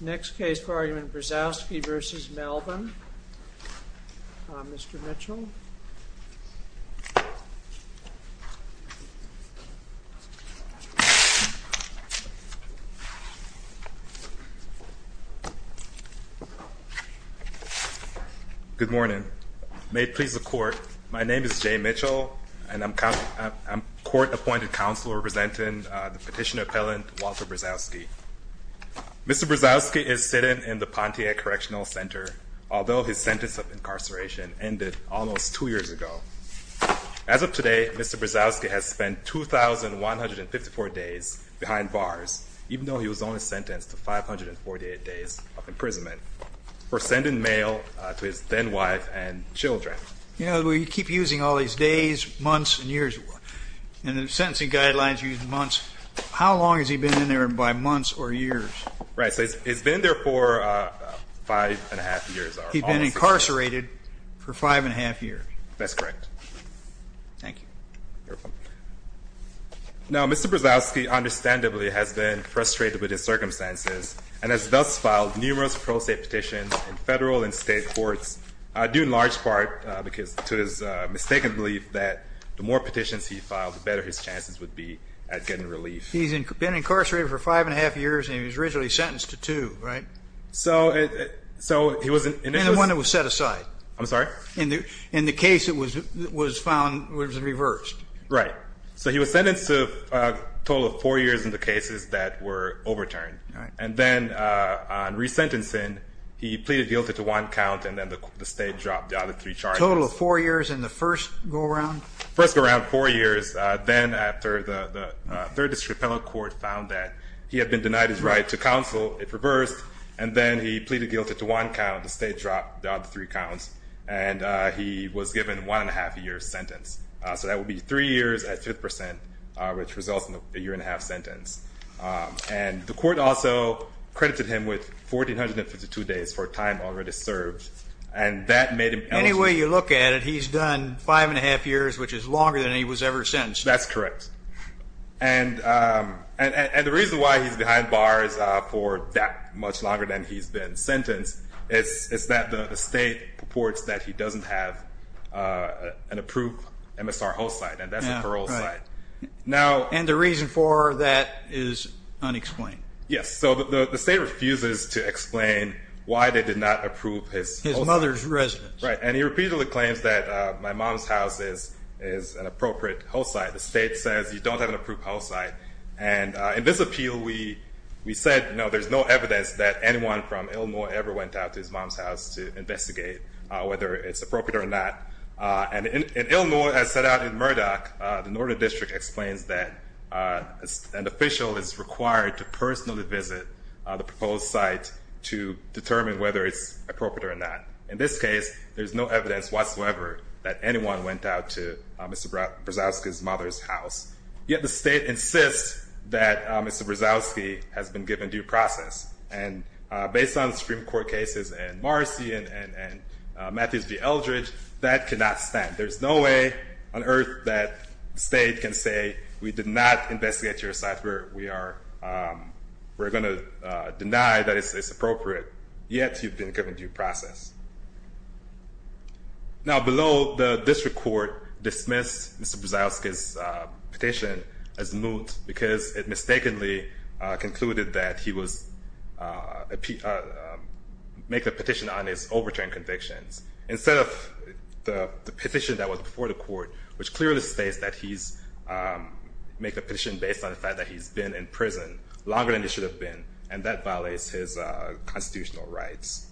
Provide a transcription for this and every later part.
Next case for argument Brzowski v. Melvin. Mr. Mitchell. Good morning. May it please the court, my name is Jay Mitchell and I'm court-appointed counsel representing the petitioner-appellant Walter Brzowski. Mr. Brzowski is sitting in the Pontiac Correctional Center although his sentence of incarceration ended almost two years ago. As of today Mr. Brzowski has spent 2,154 days behind bars even though he was only sentenced to 548 days of imprisonment for sending mail to his then wife and children. You know we keep using all these days, months, and years and the sentencing guidelines use months. How long has he been in there by months or years? Right, he's been there for five and a half years. He's been incarcerated for five and a half years. That's correct. Thank you. Now Mr. Brzowski understandably has been frustrated with his circumstances and has thus filed numerous pro-state petitions in federal and state courts due in large part because to his mistaken belief that the he's been incarcerated for five and a half years and he was originally sentenced to two, right? And the one that was set aside. I'm sorry? In the case that was found was reversed. Right, so he was sentenced to a total of four years in the cases that were overturned and then on resentencing he pleaded guilty to one count and then the state dropped the other three charges. Total of four years in the first go-around? First go-around, four years, then after the third district appellate court found that he had been denied his right to counsel, it reversed, and then he pleaded guilty to one count, the state dropped the other three counts, and he was given one and a half year sentence. So that would be three years at fifth percent which results in a year and a half sentence. And the court also credited him with 1,452 days for time already served and that made him eligible. Any way you look at it, he's done five and a half years for a sentence. That's correct. And the reason why he's behind bars for that much longer than he's been sentenced is that the state reports that he doesn't have an approved MSR host site and that's a parole site. And the reason for that is unexplained. Yes, so the state refuses to explain why they did not approve his mother's residence. Right, and he repeatedly claims that my mom's house is an appropriate host site. The state says you don't have an approved host site. And in this appeal, we said no, there's no evidence that anyone from Illinois ever went out to his mom's house to investigate whether it's appropriate or not. And in Illinois, as set out in Murdoch, the Northern District explains that an official is required to personally visit the proposed site to determine whether it's appropriate or not. In this case, there's no evidence whatsoever that anyone went out to Mr. Brzezowski's mother's house. Yet the state insists that Mr. Brzezowski has been given due process. And based on Supreme Court cases and Marcy and Matthews v. Eldridge, that cannot stand. There's no way on earth that the state can say we did not investigate your site, we're going to deny that it's appropriate. Yet you've been given due process. Now below, the district court dismissed Mr. Brzezowski's petition as moot because it mistakenly concluded that he was making a petition on his overturned convictions instead of the petition that was before the court, which clearly states that he's making a petition based on the fact that he's been in prison longer than he should have been, and that violates his constitutional rights.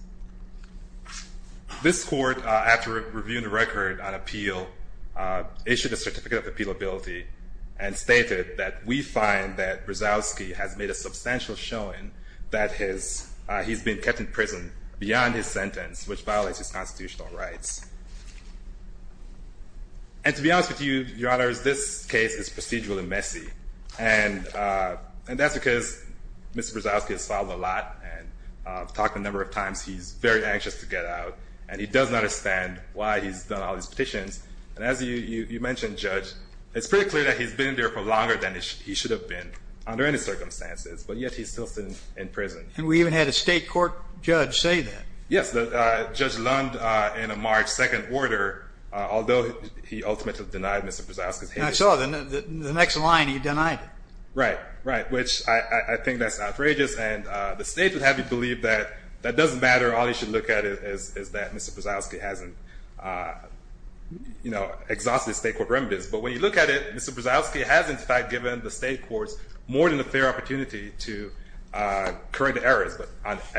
This court, after reviewing the record on appeal, issued a certificate of appealability and stated that we find that Brzezowski has made a substantial showing that he's been kept in prison beyond his sentence, which violates his constitutional rights. And to be honest with you, Your Honor, this case is procedurally messy, and that's because Mr. Brzezowski has filed a lot and talked a number of times. He's very anxious to get out, and he doesn't understand why he's done all these petitions. And as you mentioned, Judge, it's pretty clear that he's been there for longer than he should have been under any circumstances, but yet he's still sitting in prison. And we even had a state court judge say that. Yes, Judge Lund, in a March 2nd order, although he ultimately denied Mr. Brzezowski's... And I saw the next line, he denied it. Right, right, which I think that's outrageous, and the state would have you believe that that doesn't matter. All you should look at it is that Mr. Brzezowski hasn't, you know, exhausted state court remedies. But when you look at it, Mr. Brzezowski has in fact given the state courts more than a fair opportunity to correct errors.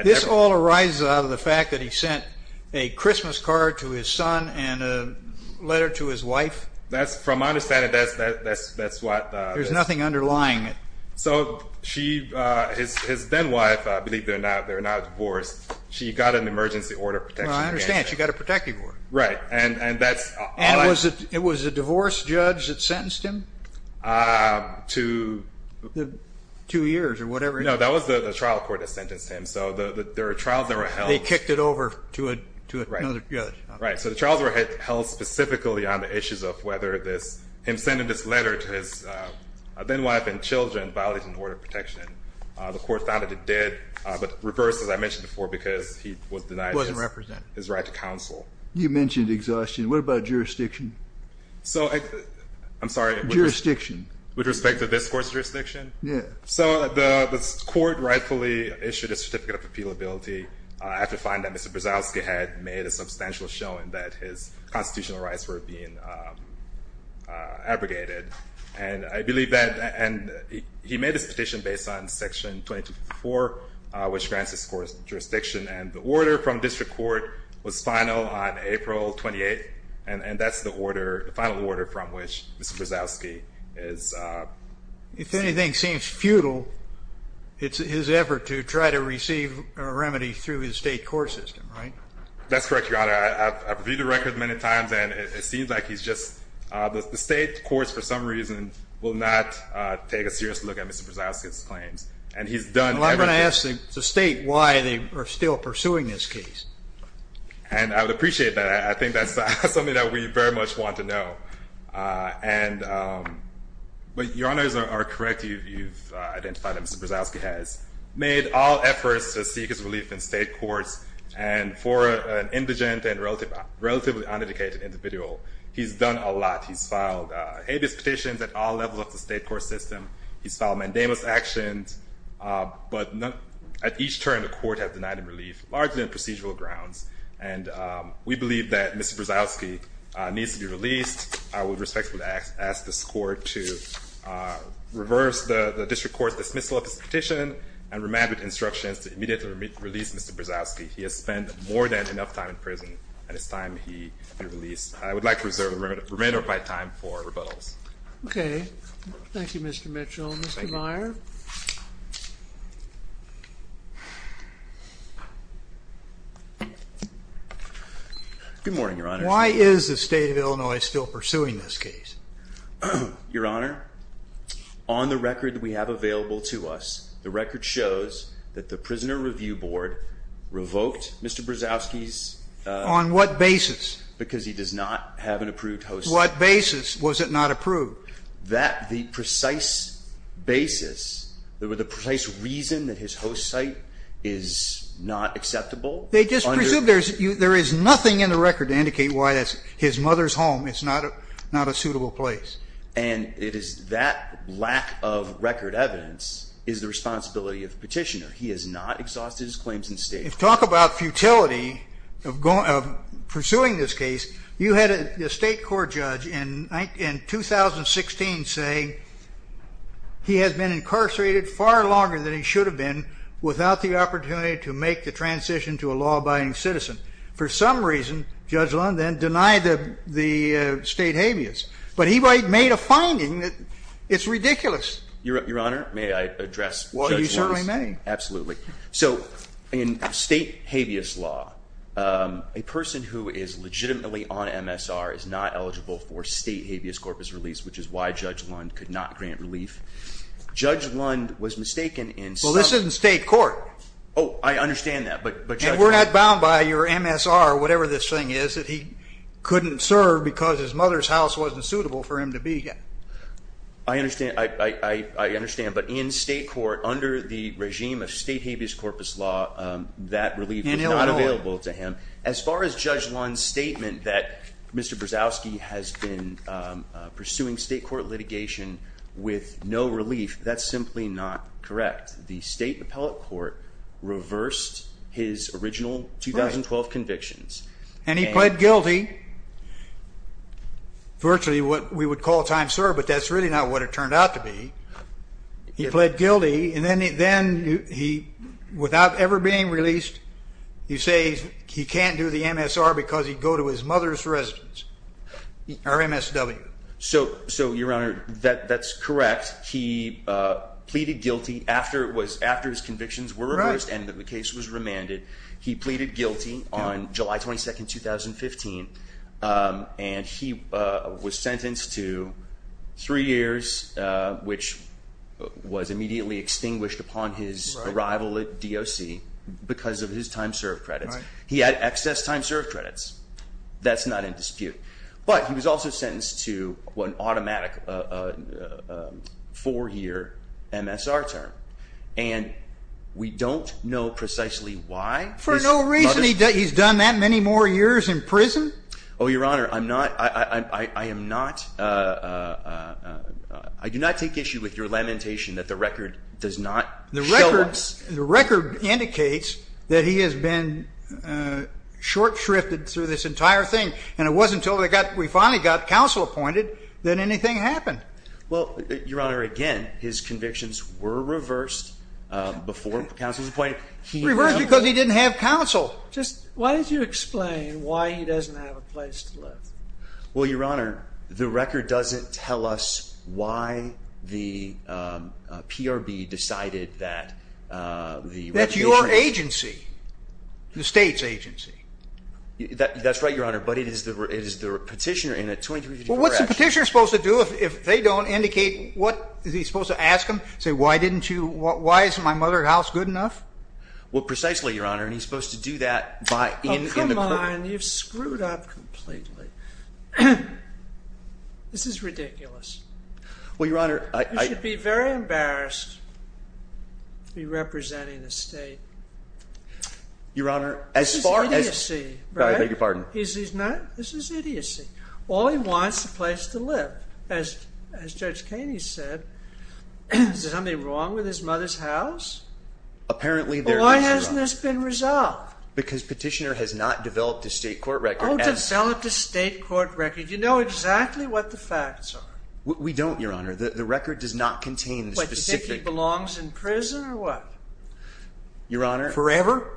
This all arises out of the fact that he sent a Christmas card to his son and a letter to his wife? That's, from my understanding, that's what... There's nothing underlying it. So she, his then wife, I believe they're now divorced, she got an emergency order of protection. I understand, she got a protective order. Right, and that's... And was it a divorced judge that sentenced him to two years or whatever? No, that was the trial court that sentenced him, so there are trials that were held... They kicked it over to another judge. Right, so the trials were held specifically on the issues of whether this, him sending this letter to his then wife and children violated an order of protection. The court found that it did, but reversed, as I mentioned before, because he was denied his right to counsel. You mentioned exhaustion. What about jurisdiction? So, I'm sorry? Jurisdiction. With respect to this court's jurisdiction? Yeah. So the court rightfully issued a certificate of appealability. I have to find that Mr. Brzezowski had made a substantial showing that his case was abrogated, and I believe that, and he made his petition based on section 2254, which grants his court's jurisdiction, and the order from district court was final on April 28th, and that's the order, the final order from which Mr. Brzezowski is... If anything seems futile, it's his effort to try to receive a remedy through his state court system, right? That's correct, Your Honor. I've reviewed the record many times, and it seems like he's just... The state courts, for some reason, will not take a serious look at Mr. Brzezowski's claims, and he's done... Well, I'm gonna ask the state why they are still pursuing this case. And I would appreciate that. I think that's something that we very much want to know. But Your Honors are correct. You've identified that Mr. Brzezowski has made all efforts to seek his relief in state courts, and for an indigent and relatively uneducated individual, he's done a lot. He's filed habeas petitions at all levels of the state court system. He's filed mandamus actions, but at each turn, the court has denied him relief, largely on procedural grounds. And we believe that Mr. Brzezowski needs to be released. I would respectfully ask this court to reverse the district court's dismissal of his instructions to immediately release Mr. Brzezowski. He has spent more than enough time in prison, and it's time he be released. I would like to reserve the remainder of my time for rebuttals. Okay. Thank you, Mr. Mitchell. Thank you. Mr. Meyer. Good morning, Your Honor. Why is the state of Illinois still pursuing this case? Your Honor, on the record that we have available to us, the record shows that the Prisoner Review Board revoked Mr. Brzezowski's On what basis? Because he does not have an approved host site. What basis was it not approved? That the precise basis, the precise reason that his host site is not acceptable. They just presume there is nothing in the record to indicate why his mother's home is not a suitable place. And it is that lack of record evidence is the responsibility of petitioner. He has not exhausted his claims in state. Talk about futility of pursuing this case. You had a state court judge in 2016 say he has been incarcerated far longer than he should have been without the opportunity to make the transition to a law abiding citizen. For some reason, Judge Lundin denied the state habeas. But he made a It's ridiculous. Your Honor, may I address Judge Lundin? Well, you certainly may. Absolutely. So in state habeas law, a person who is legitimately on MSR is not eligible for state habeas corpus release, which is why Judge Lundin could not grant relief. Judge Lundin was mistaken. Well, this isn't state court. Oh, I understand that. But we're not bound by your MSR or whatever this thing is that he couldn't serve because his mother's house wasn't suitable for him to be here. I understand. I understand. But in state court, under the regime of state habeas corpus law, that relief is not available to him. As far as Judge Lundin's statement that Mr Brzezowski has been pursuing state court litigation with no relief, that's simply not correct. The state appellate court reversed his original 2012 convictions. And he pled guilty. Virtually what we would call time, sir. But that's really not what it turned out to be. He pled guilty. And then then he without ever being released, you say he can't do the MSR because he'd go to his mother's residence or MSW. So so, Your Honor, that that's correct. He pleaded guilty after it was after his convictions were reversed and the case was remanded. He pleaded guilty on July 22nd, 2015. And he was sentenced to three years, which was immediately extinguished upon his arrival at D.O.C. because of his time served credits. He had excess time served credits. That's not in dispute. But he was also sentenced to one automatic four year MSR term. And we don't know precisely why for no reason he's done that many more years in prison. Oh, Your Honor, I'm not. I am not. Uh, I do not take issue with your lamentation that the record does not the records. The record indicates that he has been short shrifted through this entire thing. And it wasn't till they got we finally got counsel appointed that anything happened. Well, Your Honor, again, his because he didn't have counsel. Just why did you explain why he doesn't have a place to live? Well, Your Honor, the record doesn't tell us why the PRB decided that, uh, that your agency, the state's agency. That's right, Your Honor. But it is the is the petitioner in a 23. What's the petitioner supposed to do if they don't indicate what is he supposed to ask him? Say, Why didn't you? What? Why is my mother house good enough? Well, precisely, Your Honor. And he's supposed to do that by in the mind. You've screwed up completely. This is ridiculous. Well, Your Honor, I should be very embarrassed. Be representing the state. Your Honor, as far as you see, I beg your pardon. Is he's not. This is idiocy. All he wants a place to live. As as Judge Katie said, is there anything wrong with his mother's house? Apparently, there hasn't been resolved because petitioner has not developed a state court record. Developed a state court record. You know exactly what the facts are. We don't, Your Honor. The record does not contain specific belongs in prison or what? Your Honor forever,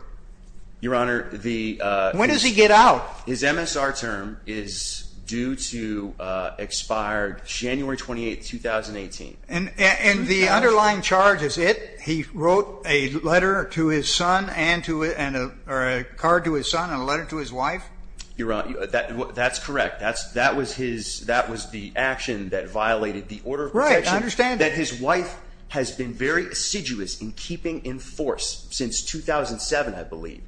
Your Honor. The when does he get out? His MSR term is due to expired January 28, 2018. And and the underlying charge is it. He wrote a letter to his son and to it and a card to his son and a letter to his wife. You're right. That's correct. That's that was his. That was the action that violated the order. Right. Understand that his wife has been very assiduous in keeping in force since 2000 and seven. I believe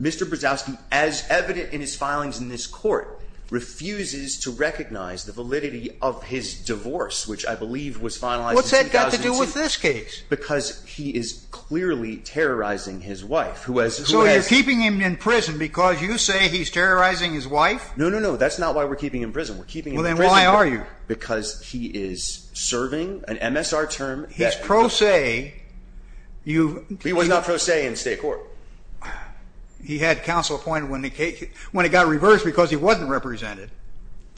Mr Brzezowski, as evident in his filings in this court, refuses to recognize the validity of his divorce, which I believe was finalized. What's that got to do with this case? Because he is clearly terrorizing his wife, who has so you're keeping him in prison because you say he's terrorizing his wife? No, no, no. That's not why we're keeping in prison. We're keeping. Well, then why are you? Because he is serving an MSR term. He's pro say you. He was not pro se in state court. He had counsel appointed when the case when it got reversed because he wasn't represented.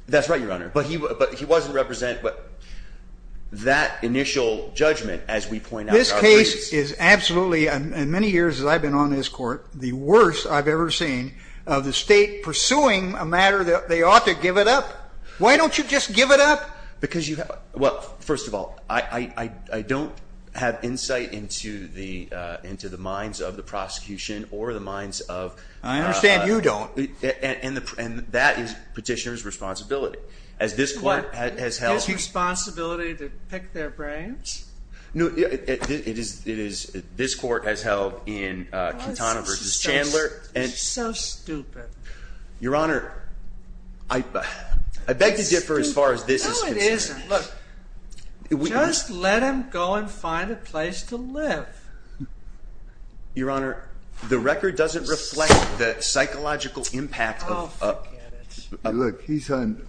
That's right, Your Honor. But he but he wasn't represent. But that initial judgment, as we point out, this case is absolutely in many years as I've been on this court, the worst I've ever seen of the state pursuing a matter that they ought to give it up. Why don't you just give it up? Because you have. Well, first of all, I I don't have insight into the into the minds of the prosecution or the minds of. I understand you don't. And that is petitioner's responsibility as this court has held responsibility to pick their brains. No, it is. It is. This court has held in Katana versus Chandler and so stupid, Your Honor. I I beg to go and find a place to live, Your Honor. The record doesn't reflect the psychological impact. Look, he's on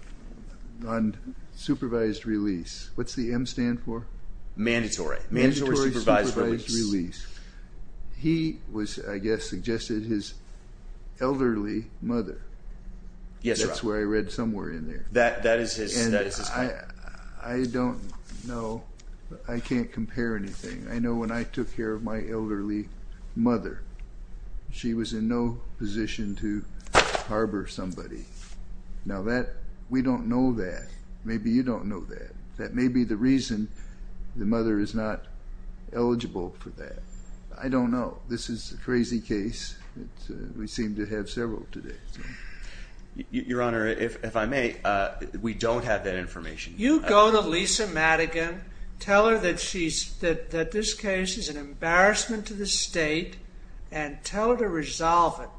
on supervised release. What's the M stand for? Mandatory. Mandatory supervised release. He was, I guess, suggested his elderly mother. Yes, that's where I read somewhere in there. That that is his. I don't know. I can't compare anything. I know when I took care of my elderly mother, she was in no position to harbor somebody now that we don't know that. Maybe you don't know that. That may be the reason the mother is not eligible for that. I don't know. This is a crazy case. We seem to have several today. Your Honor, if I may, we don't have that information. You go to Lisa Madigan, tell her that she's that that this case is an embarrassment to the state and tell her to resolve it.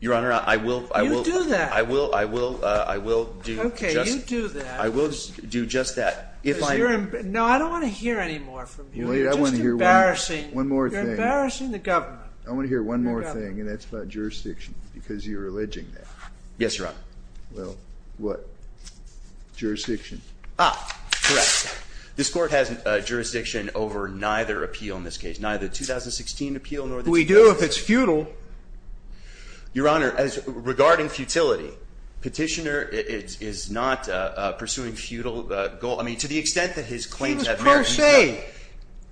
Your Honor, I will. I will do that. I will. I will. I will do. I will do just that. No, I don't want to hear any more from you. I want to hear one more thing. I want to hear one more thing, and that's about jurisdiction because you're alleging that. Yes, Your Honor. Well, what? Jurisdiction? Correct. This court has a jurisdiction over neither appeal in this case, neither 2016 appeal, nor do we do if it's futile. Your Honor, as regarding futility, petitioner is not pursuing futile goal. I mean, to the extent that his claims that say,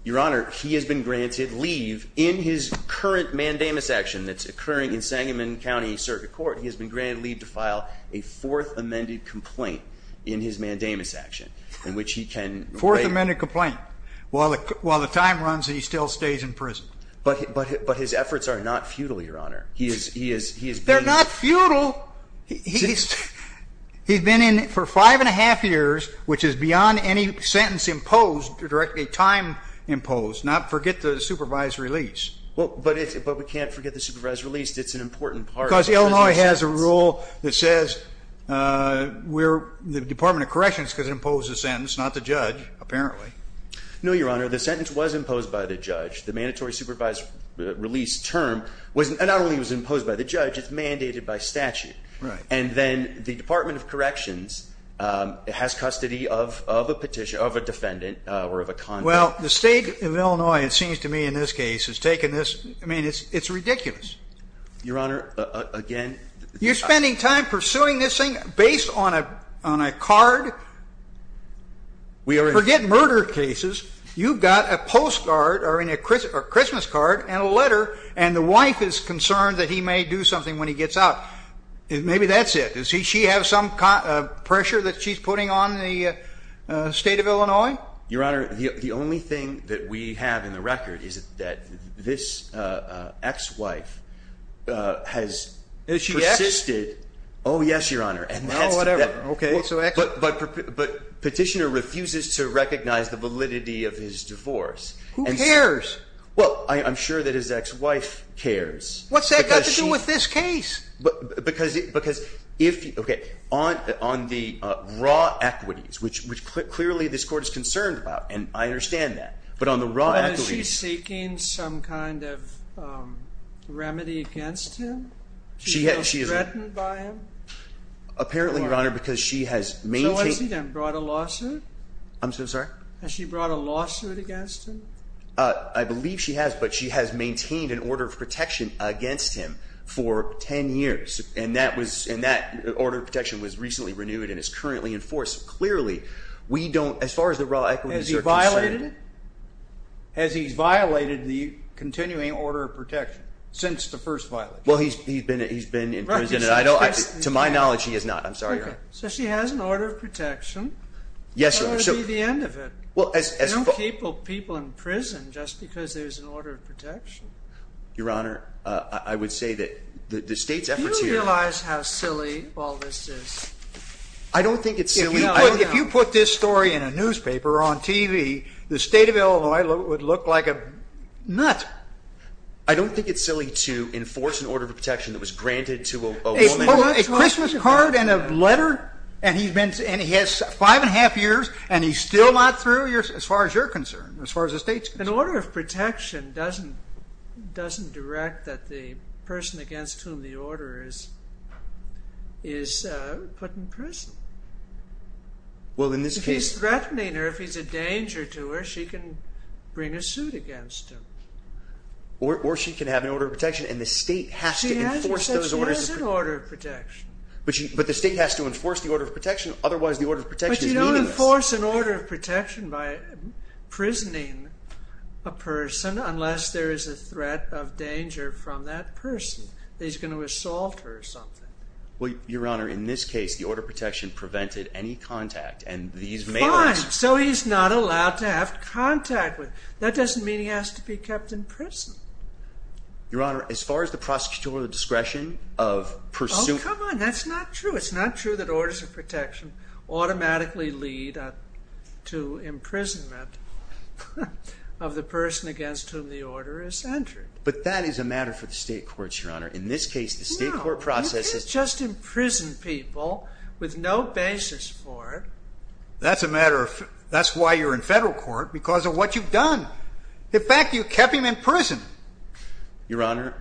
Your Honor, he has been granted leave in his current mandamus action that's occurring in Sangamon County Circuit Court, he has been granted leave to file a fourth amended complaint in his mandamus action in which he can fourth amended complaint while while the time runs, he still stays in prison. But but but his efforts are not futile, Your Honor. He is. He is. He is. They're not futile. He's he's been in for 5.5 years, which is beyond any sentence imposed directly time imposed. Not forget the supervised release. But we can't forget the supervised release. It's an important part because Illinois has a rule that says, uh, we're the Department of Corrections could impose a sentence, not the judge. Apparently, no, Your Honor. The sentence was imposed by the judge. The mandatory supervised release term wasn't not only was imposed by the judge, it's mandated by statute. And then the Department of Corrections has custody of the petition of a defendant or of a con. Well, the state of Illinois, it seems to me in this case has taken this. I mean, it's it's ridiculous, Your Honor. Again, you're spending time pursuing this thing based on a on a card. We forget murder cases. You've got a postcard or in a Christmas card and a letter, and the wife is concerned that he may do something when he gets out. Maybe that's it. Is he? She have some pressure that she's putting on the state of Illinois, Your Honor. The only thing that we have in the record is that this ex wife has insisted. Oh, yes, Your Honor. Okay, but petitioner refuses to recognize the validity of his divorce. Who cares? Well, I'm sure that his ex wife cares. What's that got to do with this case? But because because if you get on on the raw equities, which which clearly this court is concerned about, and I understand that. But on the right, he's seeking some kind of remedy against him. She has. She is threatened by him. Apparently, Your Honor, because she has maintained and brought a lawsuit. I'm so sorry. Has she brought a lawsuit against him? I believe she has. But she has maintained an order of protection against him for 10 years, and that was in that order. Protection was recently renewed and is currently in force. Clearly, we don't. As far as the raw equity is violated, has he violated the continuing order of protection since the first violation? Well, he's he's been. He's been in prison. I don't. To my knowledge, he is not. I'm sorry. So she has an order of protection. Yes, sir. So the end of it. Well, as capable people in prison, just because there's an order of protection, Your Honor, I would say that the state's efforts realize how silly all this is. I don't think it's silly. If you put this story in a newspaper on TV, the state of Illinois would look like a nut. I don't think it's silly to enforce an order of protection that was granted to a Christmas card and a letter, and he's been and he has 5.5 years and he's still not through your as far as you're concerned. As far as the state's in order of protection, doesn't doesn't direct that the person against whom the order is is put in prison. Well, in this case, threatening her, if he's a danger to her, she can bring a suit against him or she can have an order of protection in the state has to enforce those orders in order of protection. But the state has to enforce the order of an order of protection by prisoning a person unless there is a threat of danger from that person. He's gonna assault her or something. Well, Your Honor, in this case, the order of protection prevented any contact and these mailers... Fine, so he's not allowed to have contact with. That doesn't mean he has to be kept in prison. Your Honor, as far as the prosecutorial discretion of pursuing... Oh, come on, that's not true. It's not true that orders of protection automatically lead to imprisonment of the person against whom the order is entered. But that is a matter for the state courts, Your Honor. In this case, the state court process is... No, you can't just imprison people with no basis for it. That's a matter of... That's why you're in federal court, because of what you've done. In fact, you kept him in prison. Your Honor,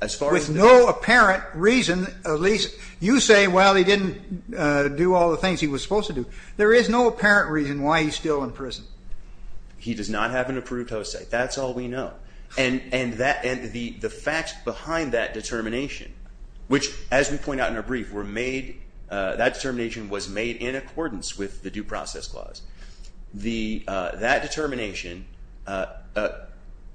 as far as... With no apparent reason, at least you say, well, he didn't do all the things he was supposed to do. There is no apparent reason why he's still in prison. He does not have an approved host state. That's all we know. And the facts behind that determination, which, as we point out in our brief, were made... That determination was made in accordance with the Due Process Clause. That determination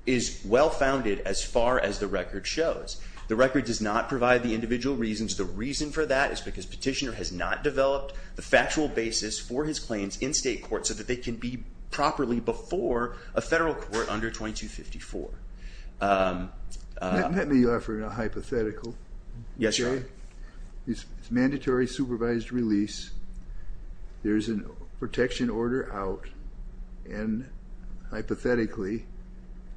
is well founded as far as the record shows. The record does not provide the individual reasons. The reason for that is because Petitioner has not developed the factual basis for his claims in state court so that they can be properly before a federal court under 2254. Let me offer a hypothetical. Yes, Your Honor. It's mandatory supervised release. There's a protection order out, and hypothetically,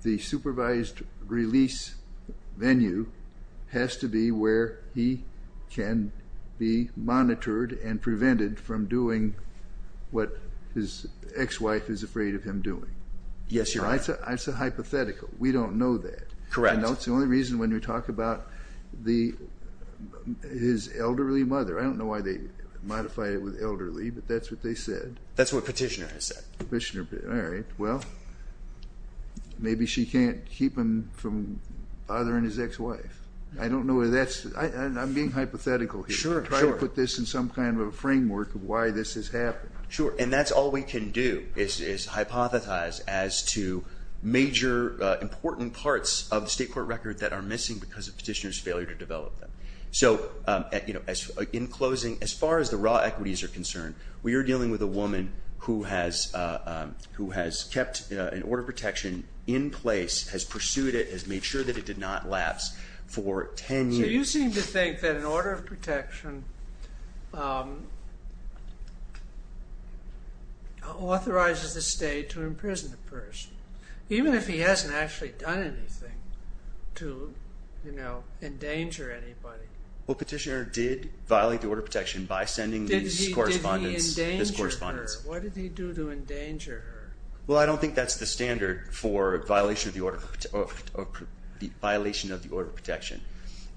the supervised release venue has to be where he can be monitored and prevented from doing what his ex-wife is afraid of him doing. Yes, Your Honor. That's a hypothetical. We don't know that. Correct. I know it's the only reason when we talk about his elderly mother. I don't know why they modified it with elderly, but that's what they said. That's what Petitioner has said. Petitioner... All from father and his ex-wife. I don't know if that's... I'm being hypothetical here. Sure, sure. Try to put this in some kind of a framework of why this has happened. Sure. And that's all we can do is hypothesize as to major important parts of the state court record that are missing because of Petitioner's failure to develop them. So, in closing, as far as the raw equities are concerned, we are dealing with a woman who has kept an order of protection in place, has pursued it, has made sure that it did not lapse for 10 years. So you seem to think that an order of protection authorizes the state to imprison a person, even if he hasn't actually done anything to endanger anybody. Well, Petitioner did violate the order of protection by sending these correspondents... Did he endanger her? What did he do to her? Well, I don't think that's the standard for violation of the order of protection.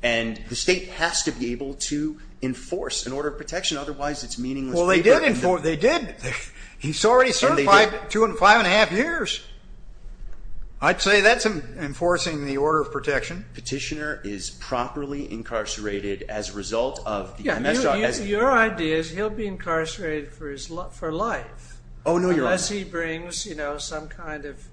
And the state has to be able to enforce an order of protection, otherwise it's meaningless... Well, they did. He's already served two and five and a half years. I'd say that's enforcing the order of protection. Petitioner is properly incarcerated as a result of... Yeah, your idea is he'll be incarcerated for life, unless he brings some kind of...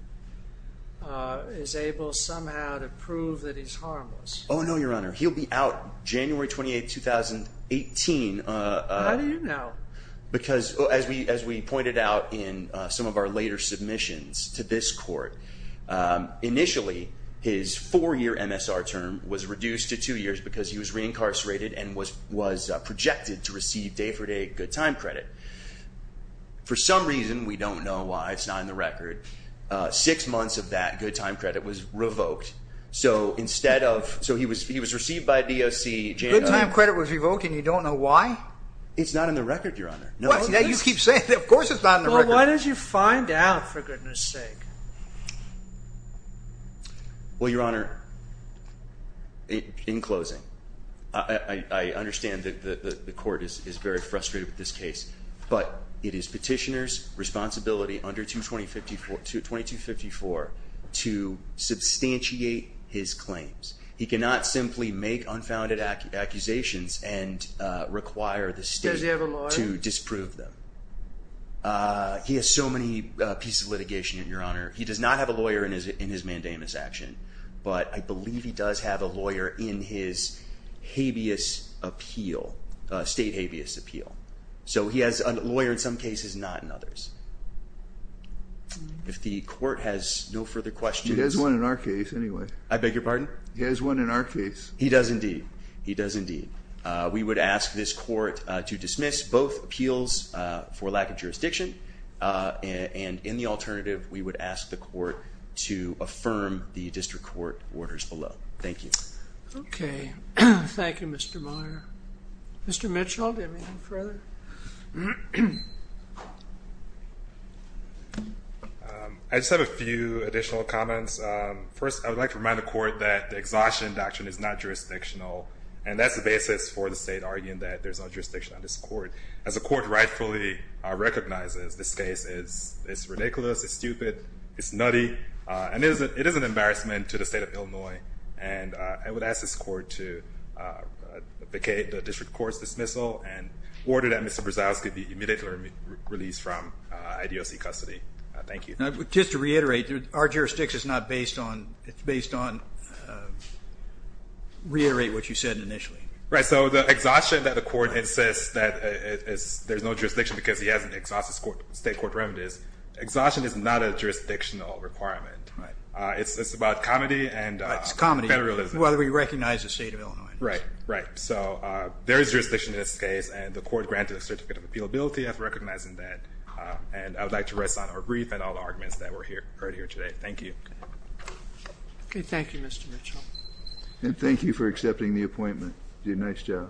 Is able somehow to prove that he's harmless. Oh, no, your honor. He'll be out January 28th, 2018. How do you know? Because, as we pointed out in some of our later submissions to this court, initially, his four year MSR term was reduced to two years because he was projected to receive day for day good time credit. For some reason, we don't know why it's not in the record, six months of that good time credit was revoked. So instead of... So he was received by DOC January... Good time credit was revoked and you don't know why? It's not in the record, your honor. No, it's not. You just keep saying it. Of course, it's not in the record. Well, why don't you find out, for goodness sake? Well, your honor, in closing, I understand that the court is very frustrated with this case, but it is petitioner's responsibility under 2254 to substantiate his claims. He cannot simply make unfounded accusations and require the state to disprove them. Does he have a lawyer? He has so many pieces of paper. He does not have a lawyer in his mandamus action, but I believe he does have a lawyer in his habeas appeal, state habeas appeal. So he has a lawyer in some cases, not in others. If the court has no further questions... He has one in our case, anyway. I beg your pardon? He has one in our case. He does indeed. He does indeed. We would ask this court to dismiss both appeals for lack of jurisdiction, and in the alternative, we would ask the court to affirm the district court orders below. Thank you. Okay. Thank you, Mr. Meyer. Mr. Mitchell, do you have anything further? I just have a few additional comments. First, I would like to remind the court that the exhaustion doctrine is not jurisdictional, and that's the basis for the state arguing that there's no jurisdiction on this court. As the court rightfully recognizes, this case is ridiculous, it's stupid, it's nutty, and it is an embarrassment to the state of Illinois. And I would ask this court to vacate the district court's dismissal and order that Mr. Brzezowski be immediately released from IDOC custody. Thank you. Just to reiterate, our jurisdiction is not based on... It's based on... The court insists that there's no jurisdiction because he hasn't exhausted state court remedies. Exhaustion is not a jurisdictional requirement. It's about comedy and... It's comedy. Federalism. Whether we recognize the state of Illinois. Right, right. So there is jurisdiction in this case, and the court granted a certificate of appealability after recognizing that. And I would like to rest on our brief and all the arguments that were heard here today. Thank you. Okay. Thank you, Mr. Mitchell. And thank you for accepting the appointment. You did a nice job.